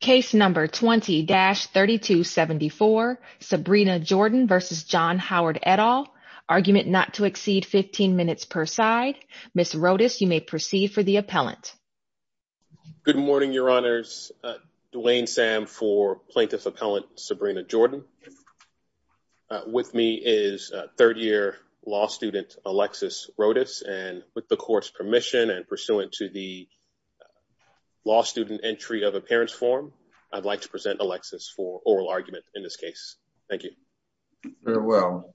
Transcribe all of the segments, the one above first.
Case number 20-3274, Sabrina Jordan versus John Howard et al. Argument not to exceed 15 minutes per side. Ms. Rodas, you may proceed for the appellant. Good morning, Your Honors. Duane Sam for Plaintiff Appellant Sabrina Jordan. With me is third year law student Alexis Rodas and with the court's permission and pursuant to the law student entry of appearance form, I'd like to present Alexis for oral argument in this case. Thank you. Farewell.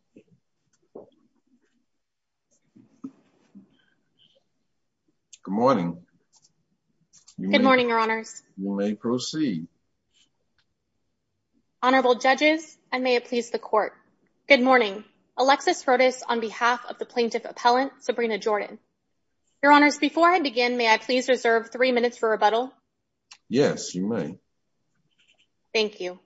Good morning. Good morning, Your Honors. You may proceed. Honorable Judges, and may it please the court. Good morning. Alexis Rodas on behalf of the Your Honors, before I begin, may I please reserve three minutes for rebuttal? Yes, you may. Thank you.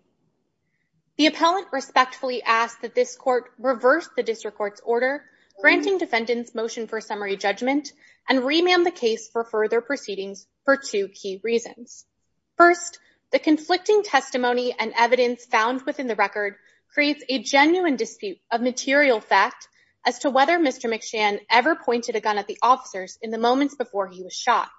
The appellant respectfully asked that this court reverse the district court's order granting defendants motion for summary judgment and remand the case for further proceedings for two key reasons. First, the conflicting testimony and evidence found within the record creates a genuine dispute of material fact as to whether Mr. McShan ever pointed a gun at the officers in the moments before he was shot.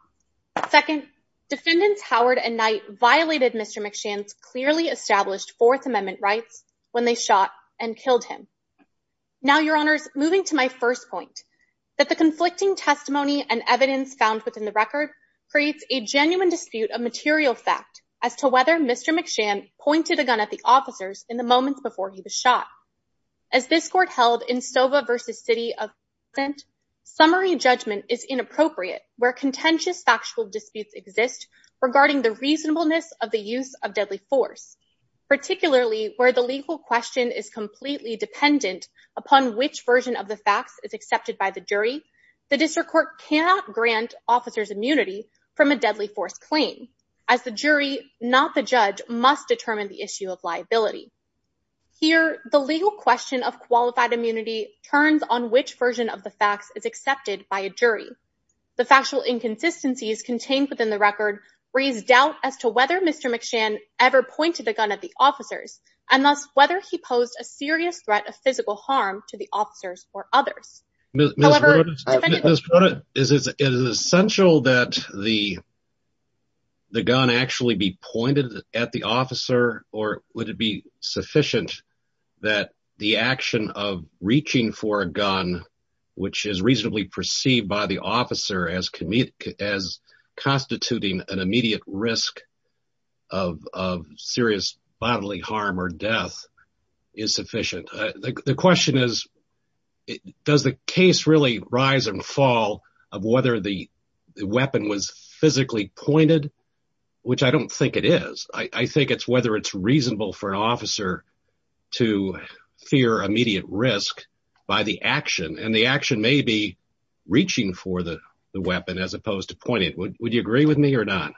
Second, defendants Howard and Knight violated Mr. McShan's clearly established Fourth Amendment rights when they shot and killed him. Now, Your Honors, moving to my first point, that the conflicting testimony and evidence found within the record creates a genuine dispute of material fact as to whether Mr. McShan pointed a gun at the officers in the moments before he was shot. As this court held in Sova versus City of is inappropriate where contentious factual disputes exist regarding the reasonableness of the use of deadly force, particularly where the legal question is completely dependent upon which version of the facts is accepted by the jury. The district court cannot grant officers immunity from a deadly force claim as the jury, not the judge, must determine the issue of liability. Here, the legal question of qualified immunity turns on which version of the facts is accepted by a jury. The factual inconsistencies contained within the record raise doubt as to whether Mr. McShan ever pointed a gun at the officers, and thus whether he posed a serious threat of physical harm to the officers or others. However, it is essential that the gun actually be pointed at the officer, or would it be sufficient that the action of reaching for a gun, which is reasonably perceived by the officer as constituting an immediate risk of serious bodily harm or death, is sufficient? The question is, does the case really rise and fall of whether the weapon was physically pointed, which I don't think it is. I think it's whether it's reasonable for an officer to fear immediate risk by the action, and the action may be reaching for the weapon as opposed to pointing it. Would you agree with me or not?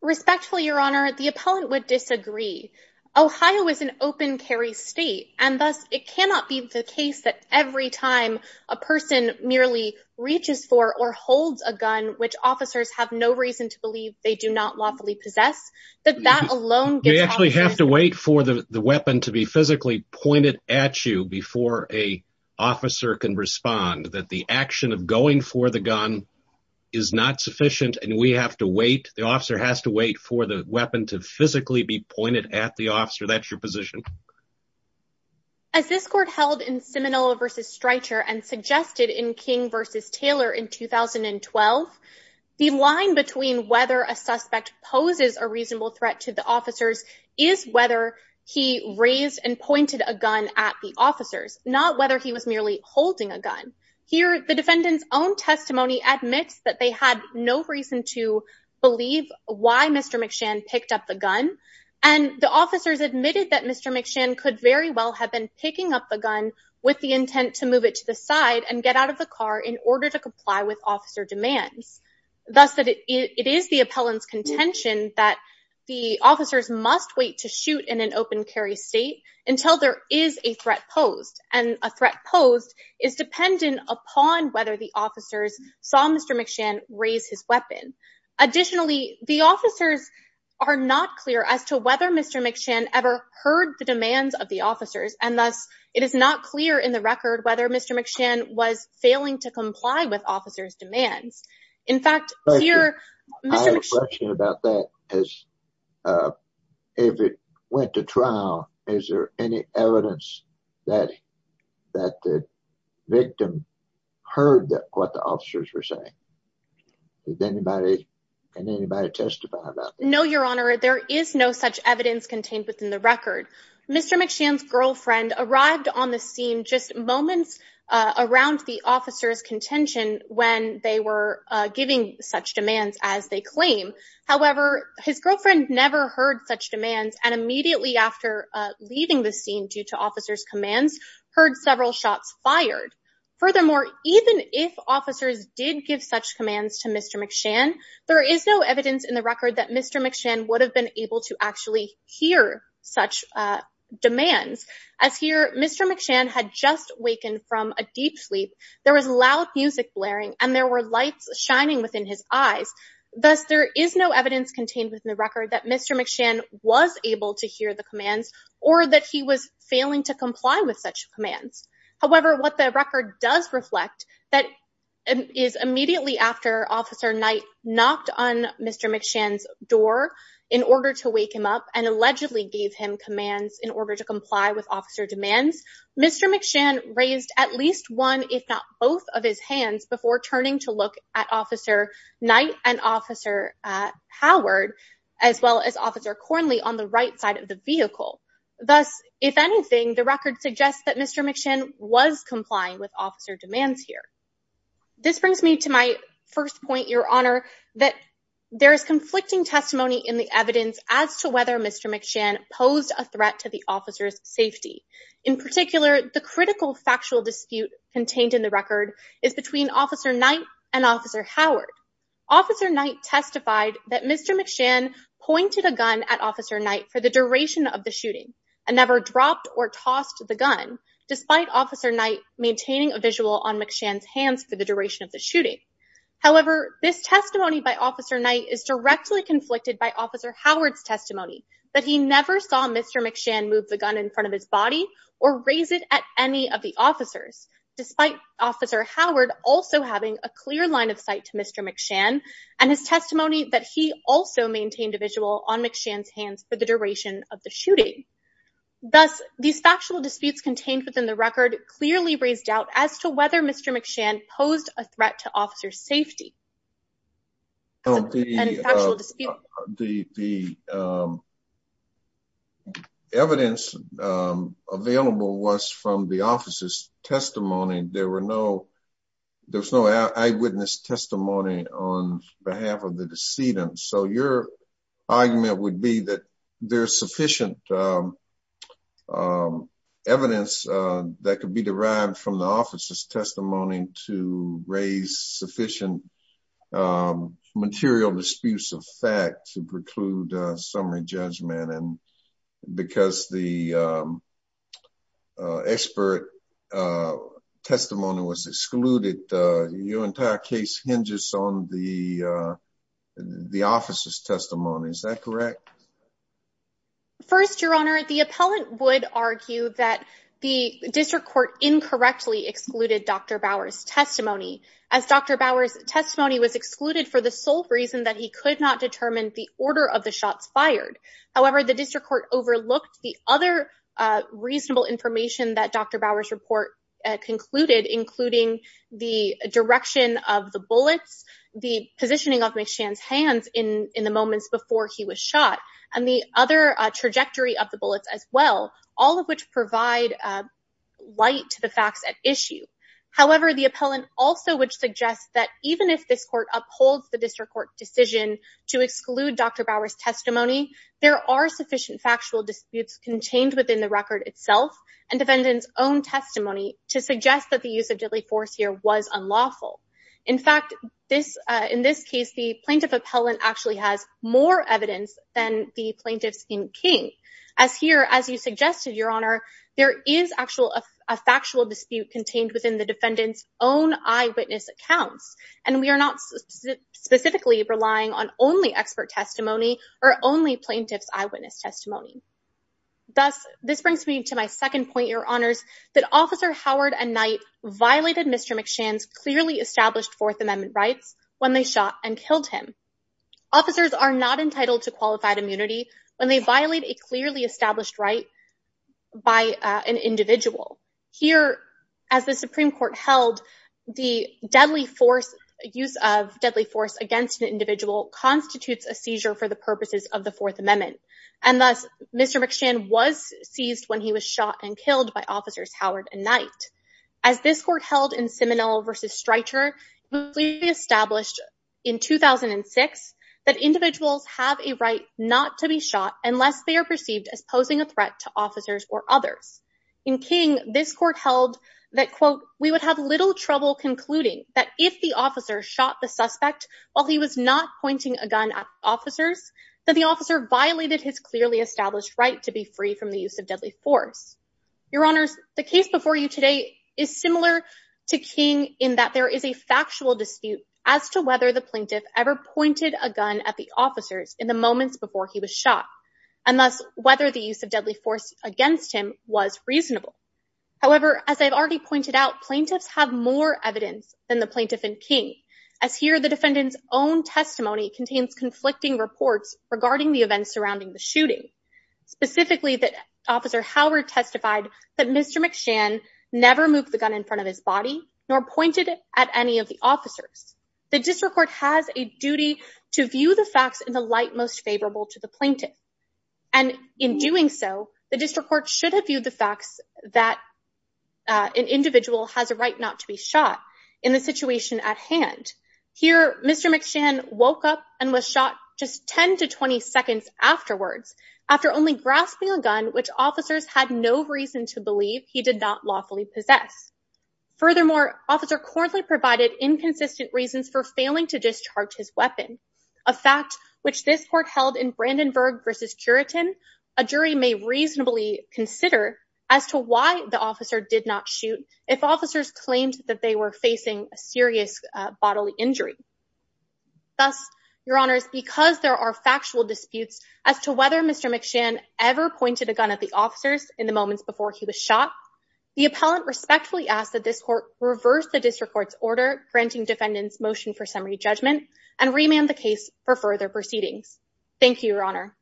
Respectfully, Your Honor, the appellant would disagree. Ohio is an open carry state, and thus it cannot be the case that every time a person merely reaches for or holds a gun, which officers have no reason to believe they do not lawfully possess, that that alone... We actually have to wait for the weapon to be physically pointed at you before an officer can respond, that the action of going for the gun is not sufficient, and we have to wait, the officer has to wait for the weapon to physically be pointed at the officer. That's your position. As this court held in Seminole versus Streicher and suggested in King versus Taylor in 2012, the line between whether a suspect poses a reasonable threat to the officers is whether he raised and pointed a gun at the officers, not whether he was merely holding a gun. Here, the defendant's own testimony admits that they had no reason to believe why Mr. McShann picked up the gun, and the officers admitted that Mr. McShann could very well have been picking up the gun with the intent to move it to the side and get out of the car in order to comply with officer demands. Thus, it is the appellant's contention that the officers must wait to shoot in an open carry state until there is a threat posed, and a threat posed is dependent upon whether the officers saw Mr. McShann raise his weapon. Additionally, the officers are not clear as to whether Mr. McShann ever heard the demands of the officers, and thus, it is not clear in the record whether Mr. McShann was failing to comply with officers' demands. In fact, here, Mr. McShann- Thank you. I have a question about that. If it went to trial, is there any evidence that the victim heard what the officers were saying? Can anybody testify about that? No, Your Honor. There is no such evidence contained within the record. Mr. McShann's girlfriend arrived on the scene just moments around the officers' contention when they were giving such demands as they claim. However, his girlfriend never heard such demands, and immediately after leaving the scene due to officers' commands, heard several shots fired. Furthermore, even if officers did give such commands to Mr. McShann, there is no evidence in the record that Mr. McShann would have been able to actually hear such demands. As here, Mr. McShann had just wakened from a deep sleep, there was loud music blaring, and there were lights shining within his eyes. Thus, there is no evidence contained within the record that Mr. McShann was able to hear the commands, or that he was failing to comply with such commands. However, what the record does reflect is that immediately after Officer Knight knocked on Mr. McShann's door in order to wake him up and allegedly gave him commands in order to comply with officer demands, Mr. McShann raised at least one, if not both, of his hands before turning to look at Officer Knight and Officer Howard, as well as Officer Cornley on the right side of the vehicle. Thus, if anything, the record suggests that Mr. McShann was complying with officer demands here. This brings me to my first point, Your Honor, that there is conflicting testimony in the evidence as to whether Mr. McShann posed a threat to the officer's safety. In particular, the critical factual dispute contained in the record is between Officer Knight and Officer Howard. Officer Knight testified that Mr. McShann pointed a gun at Officer Knight for the duration of the shooting and never dropped or tossed the gun, despite Officer Knight maintaining a visual on McShann's hands for the duration of the shooting. However, this testimony by Officer Knight is directly conflicted by Officer Howard's testimony that he never saw Mr. McShann move the gun in front of his body or raise it at any of the officers, despite Officer Howard also having a clear line of sight to Mr. McShann and his testimony that he also maintained a visual on McShann's hands for the duration of the shooting. Thus, these factual disputes contained within the record clearly raised doubt as to whether Mr. McShann posed a threat to officer's safety. The evidence available was from the officer's testimony. There were no there's no eyewitness testimony on behalf of the decedent. So your argument would be that there's sufficient evidence that could be derived from the officer's testimony to raise sufficient material disputes of fact to preclude summary judgment. And because the expert testimony was excluded, your entire case hinges on the officer's testimony. Is that correct? First, Your Honor, the appellant would argue that the district court incorrectly excluded Dr. Bower's for the sole reason that he could not determine the order of the shots fired. However, the district court overlooked the other reasonable information that Dr. Bower's report concluded, including the direction of the bullets, the positioning of McShann's hands in the moments before he was shot, and the other trajectory of the bullets as well, all of which provide light to the facts at issue. However, the appellant also would suggest that even if this court upholds the district court decision to exclude Dr. Bower's testimony, there are sufficient factual disputes contained within the record itself and defendant's own testimony to suggest that the use of deadly force here was unlawful. In fact, in this case, the plaintiff appellant actually has more evidence than the plaintiffs in King. As here, as you suggested, Your Honor, there is actually a factual dispute contained within the defendant's own eyewitness accounts, and we are not specifically relying on only expert testimony or only plaintiff's eyewitness testimony. Thus, this brings me to my second point, Your Honors, that Officer Howard and Knight violated Mr. McShann's clearly established Fourth Amendment rights when they shot and killed him. Officers are not entitled to qualified the Supreme Court held the deadly force, use of deadly force against an individual constitutes a seizure for the purposes of the Fourth Amendment, and thus Mr. McShann was seized when he was shot and killed by Officers Howard and Knight. As this court held in Seminole v. Streicher, we established in 2006 that individuals have a right not to be shot unless they are perceived as posing a threat to officers or others. In King, this court held that, quote, we would have little trouble concluding that if the officer shot the suspect while he was not pointing a gun at officers, that the officer violated his clearly established right to be free from the use of deadly force. Your Honors, the case before you today is similar to King in that there is a factual dispute as to whether the plaintiff ever pointed a gun at the officers in the moments before he was shot, and thus whether the use of deadly force against him was reasonable. However, as I've already pointed out, plaintiffs have more evidence than the plaintiff in King, as here the defendant's own testimony contains conflicting reports regarding the events surrounding the shooting, specifically that Officer Howard testified that Mr. McShann never moved the gun in front of his body nor pointed it at any of the officers. The District Court has a duty to view the facts in the light most favorable to the plaintiff, and in doing so, the District Court should have viewed the facts that an individual has a right not to be shot in the situation at hand. Here, Mr. McShann woke up and was shot just 10 to 20 seconds afterwards after only grasping a gun, which officers had no reason to believe he did not lawfully possess. Furthermore, Officer Corley provided inconsistent reasons for failing to discharge his weapon, a fact which this court held in Brandenburg v. Curitin, a jury may reasonably consider as to why the officer did not shoot if officers claimed that they were facing a serious bodily injury. Thus, Your Honors, because there are factual disputes as to whether Mr. McShann was shot, the appellant respectfully asks that this court reverse the District Court's order granting defendants motion for summary judgment and remand the case for further proceedings. Thank you, Your Honor.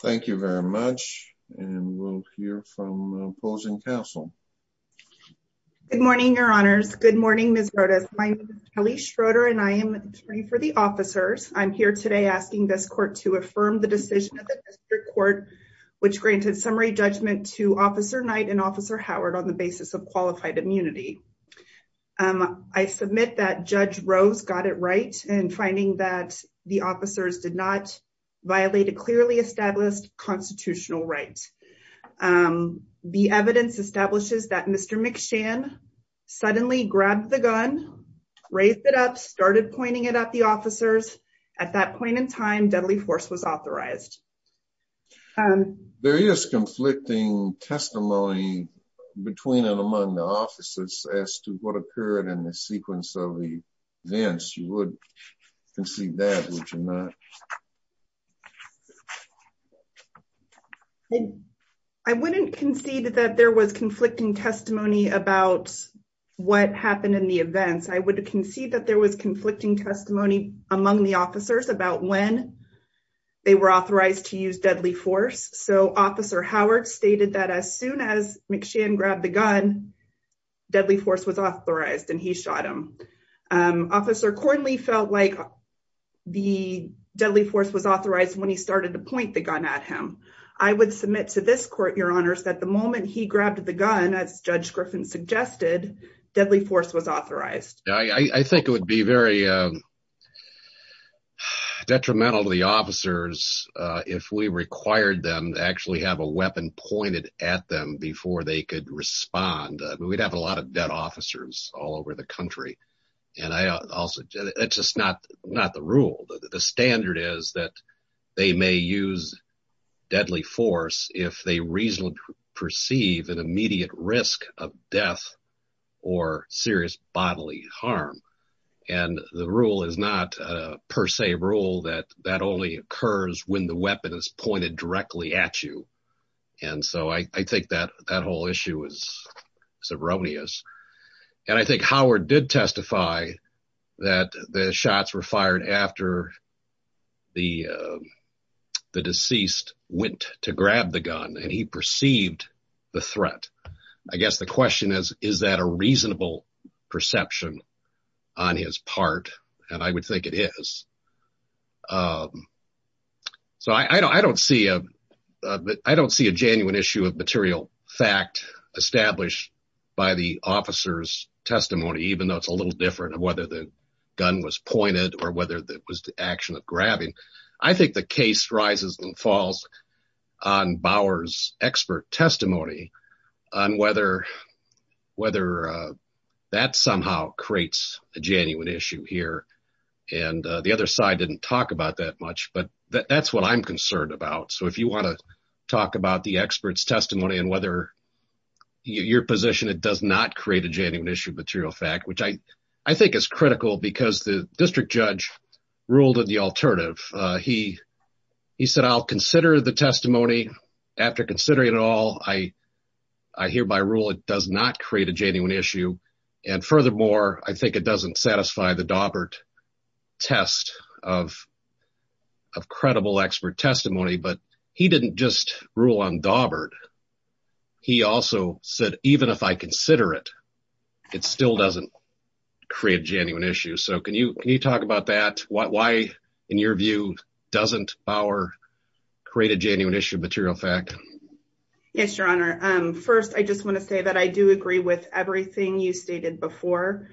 Thank you very much, and we'll hear from opposing counsel. Good morning, Your Honors. Good morning, Ms. Rodas. My name is Kelly Schroeder, and I am attorney for the officers. I'm here today asking this court to affirm the decision of the District Court, which granted summary judgment to Officer Knight and Officer Howard on the basis of qualified immunity. I submit that Judge Rose got it right in finding that the officers did not violate a clearly established constitutional right. The evidence establishes that Mr. McShann suddenly grabbed the gun, raised it up, started pointing it at the officers. At that point in time, deadly force was authorized. There is conflicting testimony between and among the officers as to what occurred in the sequence of the events. You would concede that, would you not? I wouldn't concede that there was conflicting testimony about what happened in the events. I would concede that there was conflicting testimony among the officers about when they were authorized to use deadly force. So, Officer Howard stated that as soon as McShann grabbed the gun, deadly force was authorized and he shot him. Officer Cornley felt like the deadly force was authorized when he started to point the gun at him. I would submit to this court, Your Honors, that the moment he grabbed the gun, as Judge if we required them to actually have a weapon pointed at them before they could respond, we'd have a lot of dead officers all over the country. It's just not the rule. The standard is that they may use deadly force if they reasonably perceive an immediate risk of death or serious bodily harm. The rule is not a per se rule that only occurs when the weapon is pointed directly at you. I think that whole issue is erroneous. I think Howard did testify that the shots were fired after the deceased went to grab the gun and he perceived the threat. I guess the question is, is that a reasonable perception on his part? I would think it is. I don't see a genuine issue of material fact established by the officer's testimony, even though it's a little different of whether the gun was pointed or whether it was the action of grabbing. I think the case rises and whether that somehow creates a genuine issue here. The other side didn't talk about that much, but that's what I'm concerned about. If you want to talk about the expert's testimony and whether your position, it does not create a genuine issue of material fact, which I think is critical because the district judge ruled in the alternative. He said, I'll consider the testimony after considering it all. I hereby rule it does not create a genuine issue. Furthermore, I think it doesn't satisfy the Dawbert test of credible expert testimony. He didn't just rule on Dawbert. He also said, even if I consider it, it still doesn't create a genuine issue. Can you talk about that? Why, in your view, doesn't Bauer create a genuine issue of material fact? Yes, Your Honor. First, I just want to say that I do agree with everything you stated before.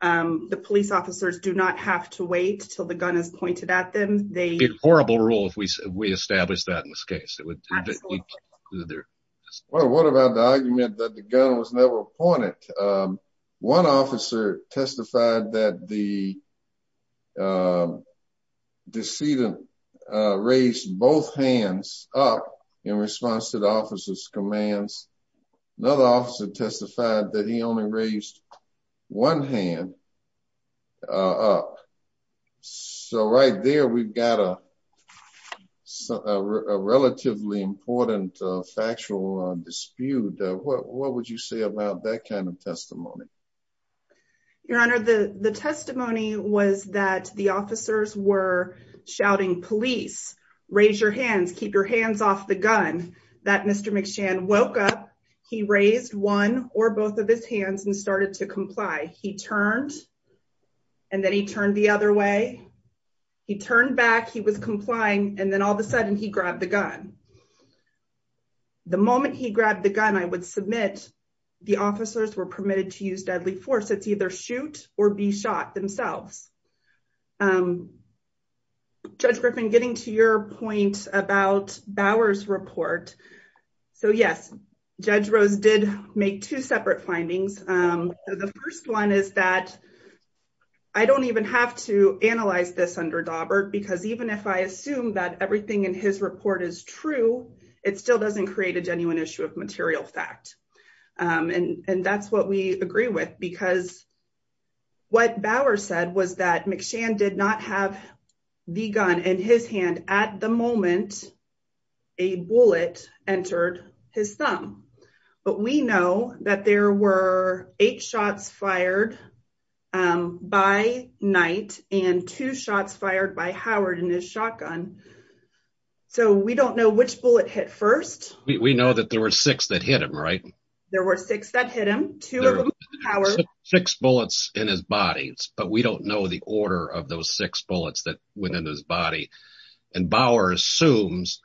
The police officers do not have to wait until the gun is pointed at them. It would be a horrible rule if we established that in this case. Absolutely. What about the argument that the gun was never pointed? One officer testified that the decedent raised both hands up in response to the officer's commands. Another officer testified that he only raised one hand up. Right there, we've got a relatively important factual dispute. What would you say about that kind of testimony? Your Honor, the testimony was that the officers were shouting, police, raise your hands, keep your hands off the gun. That Mr. McShann woke up, he raised one or both of his hands and started to comply. He turned and then he turned the other way. He turned back, he was complying, and then all of a sudden, he grabbed the gun. The moment he grabbed the gun, I would submit the officers were permitted to use deadly force. It's either shoot or be shot themselves. Judge Griffin, getting to your point about Bauer's report. Yes, Judge Rose did make two separate findings. The first one is that I don't even have to analyze this under Daubert because even if I assume that everything in his report is true, it still doesn't create a genuine issue of material fact. That's what we agree with because what Bauer said was that McShann did not have the gun in his hand at the moment a bullet entered his thumb. We know that there were eight shots fired by Howard in his shotgun, so we don't know which bullet hit first. We know that there were six that hit him, right? There were six that hit him, two of them by Howard. Six bullets in his body, but we don't know the order of those six bullets that went into his body. Bauer assumes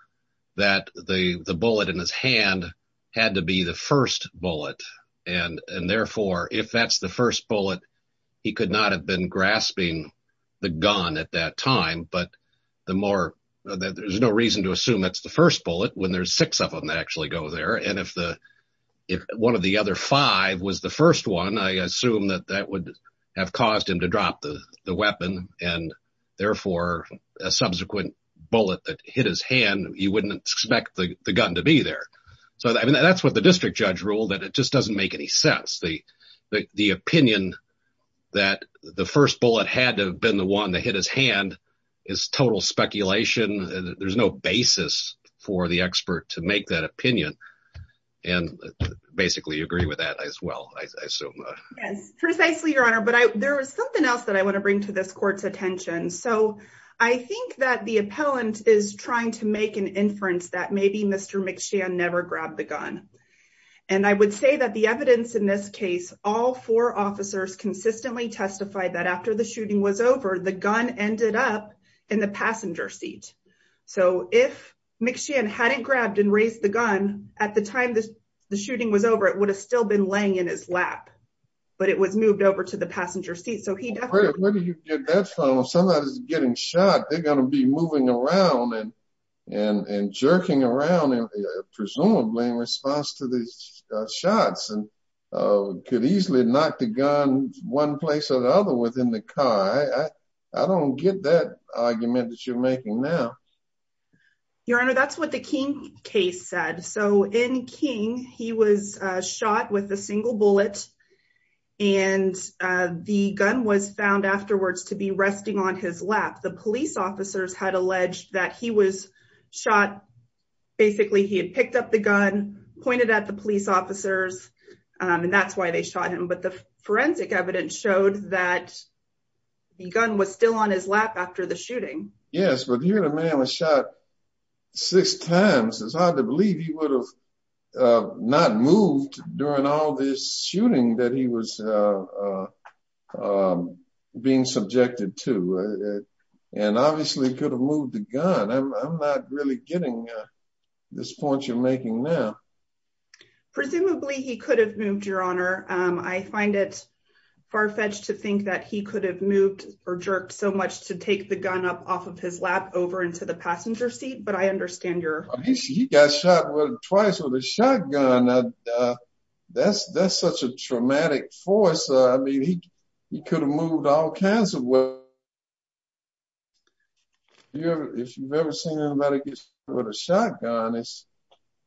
that the bullet in his hand had to be the first bullet. Therefore, if that's the first bullet, he could not have been grasping the gun at that time. There's no reason to assume that's the first bullet when there's six of them that actually go there. If one of the other five was the first one, I assume that that would have caused him to drop the weapon. Therefore, a subsequent bullet that hit his hand, you wouldn't expect the gun to be there. That's what the district judge ruled. It just doesn't make any sense. The opinion that the first bullet had to have been the one that hit his hand is total speculation. There's no basis for the expert to make that opinion. Basically, you agree with that as well, I assume. Yes, precisely, Your Honor. There is something else that I want to bring to this court's attention. I think that the appellant is trying to make an inference that maybe Mr. McShan never grabbed the gun. I would say that the evidence in this case, all four officers consistently testified that after the shooting was over, the gun ended up in the passenger seat. If McShan hadn't grabbed and raised the gun at the time the shooting was over, it would have still been laying in his lap, but it was moved over to the passenger seat. If somebody's getting shot, they're going to be moving around and jerking around, presumably in response to these shots, and could easily knock the gun one place or the other within the car. I don't get that argument that you're making now. Your Honor, that's what the King case said. In King, he was shot with a single bullet, and the gun was found afterwards to be resting on his lap. The police officers had alleged that he was shot. Basically, he had picked up the gun, pointed at the police officers, and that's why they shot him. But the forensic evidence showed that the gun was still on his lap after the shooting. Yes, but the other man was shot six times. It's hard to believe he would have not moved during all this shooting that he was being subjected to, and obviously could have moved the gun. I'm not really getting this point you're making now. Presumably, he could have moved, Your Honor. I find it far-fetched to think that he could have moved or jerked so much to take the gun up off of his lap over into the passenger seat, but I understand your... He got shot twice with a shotgun. That's such a traumatic force. I mean, he could have moved all kinds of ways. If you've ever seen anybody get shot with a shotgun, it's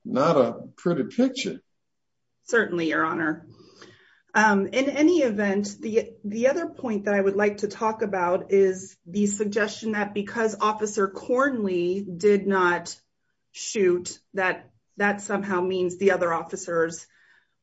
not a pretty picture. Certainly, Your Honor. In any event, the other point that I would like to talk about is the other officers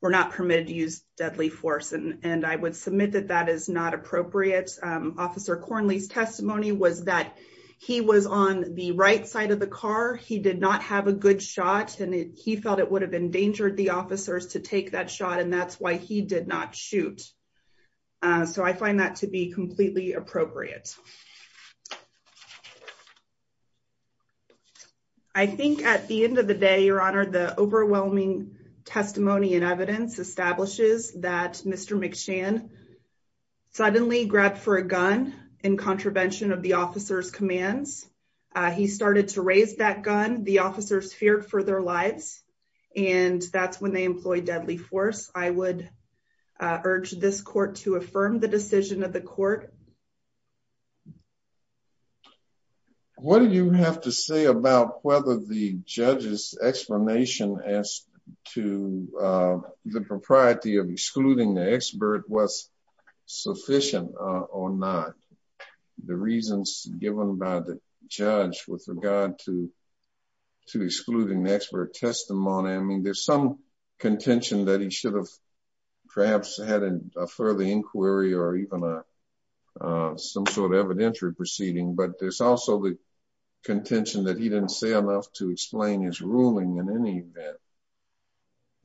were not permitted to use deadly force, and I would submit that that is not appropriate. Officer Cornley's testimony was that he was on the right side of the car. He did not have a good shot, and he felt it would have endangered the officers to take that shot, and that's why he did not shoot. So, I find that to be completely appropriate. I think at the end of the day, Your Honor, the overwhelming testimony and evidence establishes that Mr. McShann suddenly grabbed for a gun in contravention of the officer's commands. He started to raise that gun. The officers feared for their lives, and that's when they employed deadly force. I would urge this court to affirm the decision of the court. What do you have to say about whether the judge's explanation as to the propriety of excluding the expert was sufficient or not? The reasons given by the judge with regard to excluding the expert testimony, I mean, there's some contention that he should have perhaps had a further inquiry or even some sort of evidentiary proceeding, but there's also the contention that he didn't say enough to explain his ruling in any event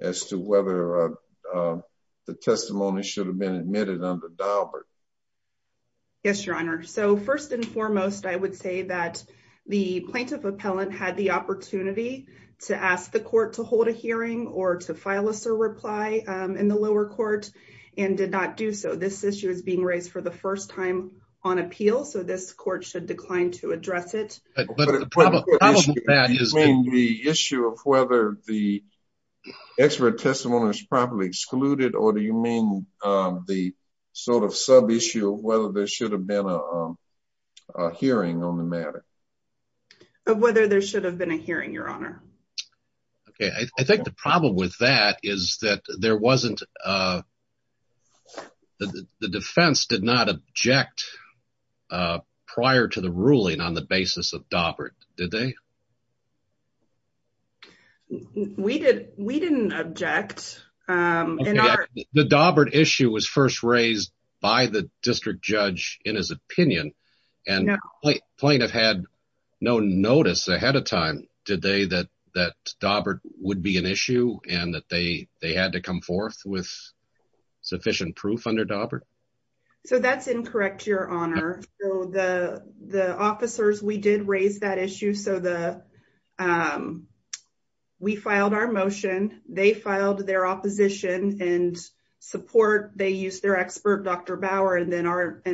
as to whether the testimony should have been admitted under Daubert. Yes, Your Honor. So, first and foremost, I would say that the plaintiff appellant had the opportunity to ask the court to hold a hearing or to file a reply in the lower court and did not do so. This issue is being raised for the first time on appeal, so this court should decline to address it. The issue of whether the expert testimony was properly excluded, or do you mean the sort of sub-issue of whether there should have been a hearing on the matter? Whether there should have been a hearing, Your Honor. Okay, I think the problem with that is that the defense did not object prior to the ruling on the basis of Daubert, did they? We didn't object. The Daubert issue was first raised by the district judge in his opinion, and the plaintiff had no notice ahead of time, did they, that Daubert would be an issue and that they had to come forth with sufficient proof under Daubert? So, that's incorrect, Your Honor. The officers, we did raise that issue. We filed our motion, they filed their opposition and support. They used their expert, Dr. Bauer, and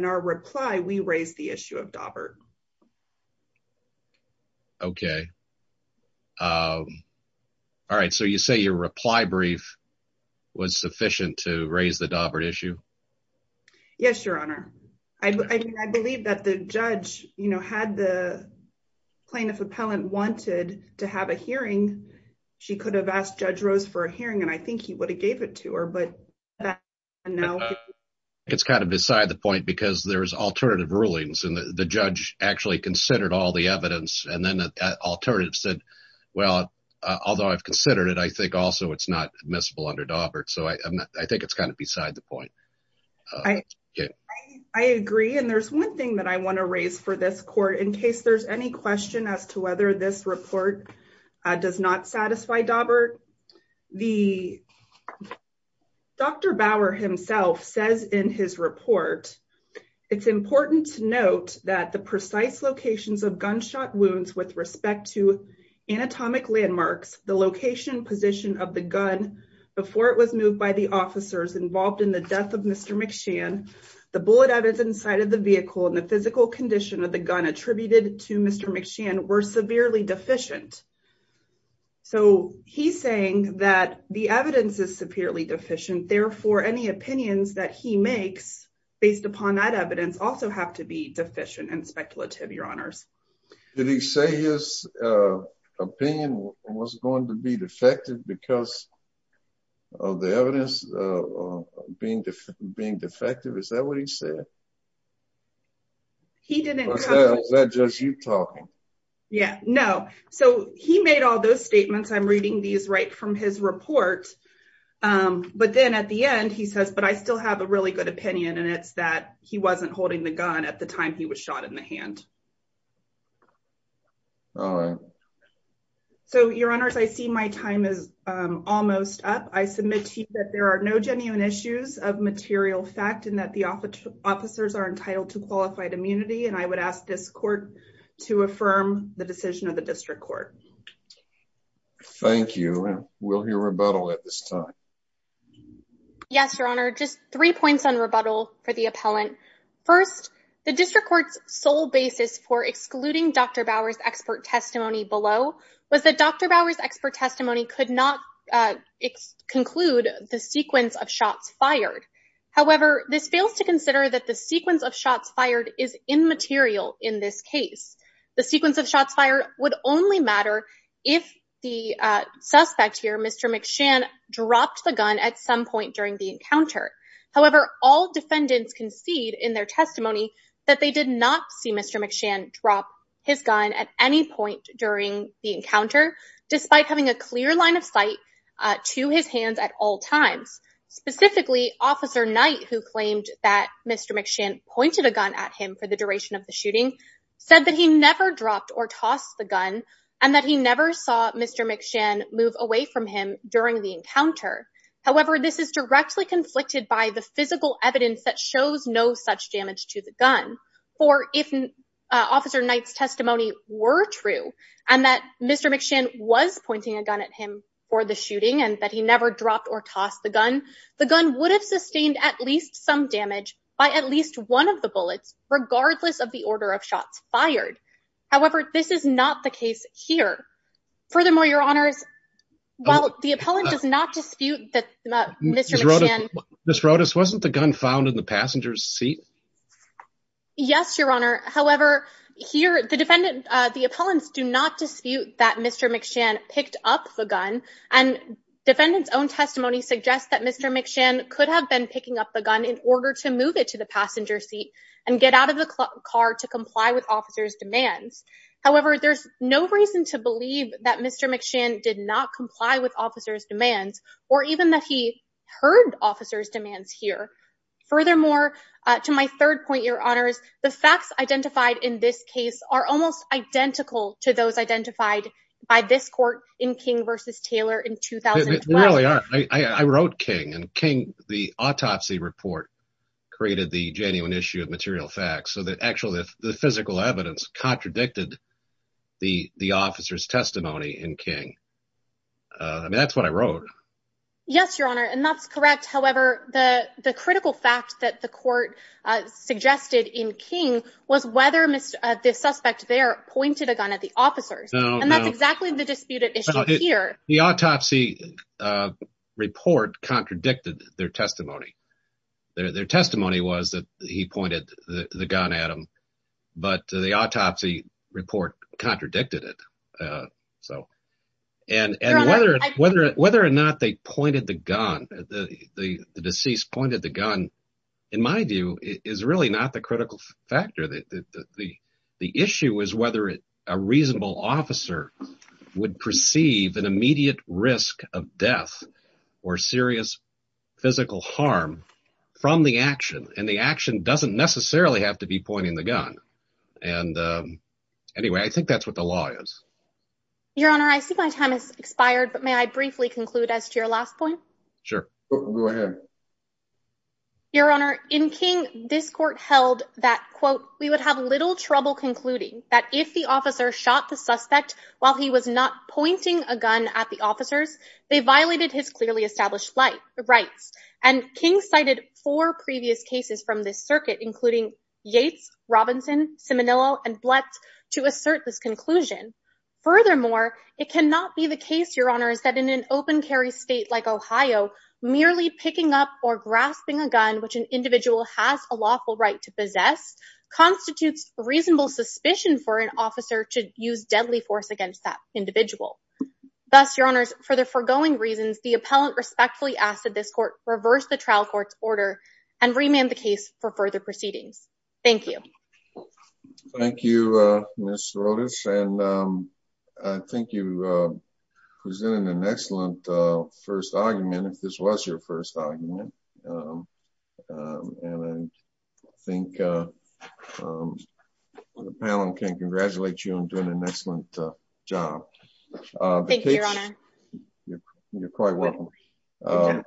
our reply, we raised the issue of Daubert. Okay. All right, so you say your reply brief was sufficient to raise the Daubert issue? Yes, Your Honor. I believe that the judge, you know, had the plaintiff appellant wanted to have a hearing. She could have asked Judge Rose for a hearing, and I think he would have the point because there's alternative rulings, and the judge actually considered all the evidence, and then the alternative said, well, although I've considered it, I think also it's not admissible under Daubert. So, I think it's kind of beside the point. I agree, and there's one thing that I want to raise for this court in case there's any question as to whether this report does not satisfy Daubert. Dr. Bauer himself says in his report, it's important to note that the precise locations of gunshot wounds with respect to anatomic landmarks, the location position of the gun before it was moved by the officers involved in the death of Mr. McShan, the bullet evidence inside of the vehicle, and the physical condition of the gun attributed to Mr. McShan were severely deficient. So, he's saying that the evidence is deficient. Therefore, any opinions that he makes based upon that evidence also have to be deficient and speculative, your honors. Did he say his opinion was going to be defective because of the evidence being defective? Is that what he said? He didn't. Was that just you talking? Yeah, no. So, he made all those statements. I'm reading these right from his report, but then at the end he says, but I still have a really good opinion, and it's that he wasn't holding the gun at the time he was shot in the hand. All right. So, your honors, I see my time is almost up. I submit to you that there are no genuine issues of material fact and that the officers are entitled to qualified immunity, and I would ask this court to affirm the decision of the district court. Thank you. We'll hear rebuttal at this time. Yes, your honor. Just three points on rebuttal for the appellant. First, the district court's sole basis for excluding Dr. Bower's expert testimony below was that Dr. Bower's expert testimony could not conclude the sequence of shots fired. However, this fails to consider that the sequence of shots fired is immaterial in this case. The sequence of shots fired would only matter if the suspect here, Mr. McShann, dropped the gun at some point during the encounter. However, all defendants concede in their testimony that they did not see Mr. McShann drop his gun at any point during the encounter, despite having a clear line of sight to his hands at all times. Specifically, Officer said that he never dropped or tossed the gun and that he never saw Mr. McShann move away from him during the encounter. However, this is directly conflicted by the physical evidence that shows no such damage to the gun. Or if Officer Knight's testimony were true and that Mr. McShann was pointing a gun at him for the shooting and that he never dropped or tossed the gun, the gun would have sustained at least some damage by at least one of the bullets, regardless of the order of shots fired. However, this is not the case here. Furthermore, Your Honors, while the appellant does not dispute that Mr. McShann... Ms. Rodas, wasn't the gun found in the passenger's seat? Yes, Your Honor. However, here the defendant, the appellants do not dispute that Mr. McShann picked up the gun and defendant's own testimony suggests that Mr. McShann could have been picking up the gun in order to move it to the passenger seat and get out of the car to comply with officer's demands. However, there's no reason to believe that Mr. McShann did not comply with officer's demands or even that he heard officer's demands here. Furthermore, to my third point, Your Honors, the facts identified in this case are almost identical to those identified by this court in King v. Taylor in 2012. It really are. I wrote the autopsy report created the genuine issue of material facts so that actually the physical evidence contradicted the officer's testimony in King. I mean, that's what I wrote. Yes, Your Honor. And that's correct. However, the critical fact that the court suggested in King was whether the suspect there pointed a gun at the officers. And that's exactly the disputed issue here. The autopsy report contradicted their testimony. Their testimony was that he pointed the gun at him, but the autopsy report contradicted it. And whether or not they pointed the gun, the deceased pointed the gun, in my view, is really not the critical factor. The issue is whether a reasonable officer would perceive an immediate risk of death or serious physical harm from the action. And the action doesn't necessarily have to be pointing the gun. And anyway, I think that's what the law is. Your Honor, I see my time has expired, but may I briefly conclude as to your last point? Sure. Go ahead. Your Honor, in King, this court held that, quote, we would have little trouble concluding that if the officer shot the suspect while he was not pointing a gun at the officers, they violated his clearly established rights. And King cited four previous cases from this circuit, including Yates, Robinson, Simonillo, and Blatt, to assert this conclusion. Furthermore, it cannot be the case, Your Honor, is that in an open carry state like Ohio, merely picking up or grasping a gun, which an individual has a lawful right to possess, constitutes reasonable suspicion for an officer to use deadly force against that individual. Thus, Your Honors, for the foregoing reasons, the appellant respectfully asked that this court reverse the trial court's order and remand the case for further proceedings. Thank you. Thank you, Ms. Rodas. And I think you presented an excellent first argument, if this was your first argument. And I think the panel can congratulate you on doing an excellent job. Thank you, Your Honor. You're quite welcome.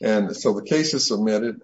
And so the case is submitted.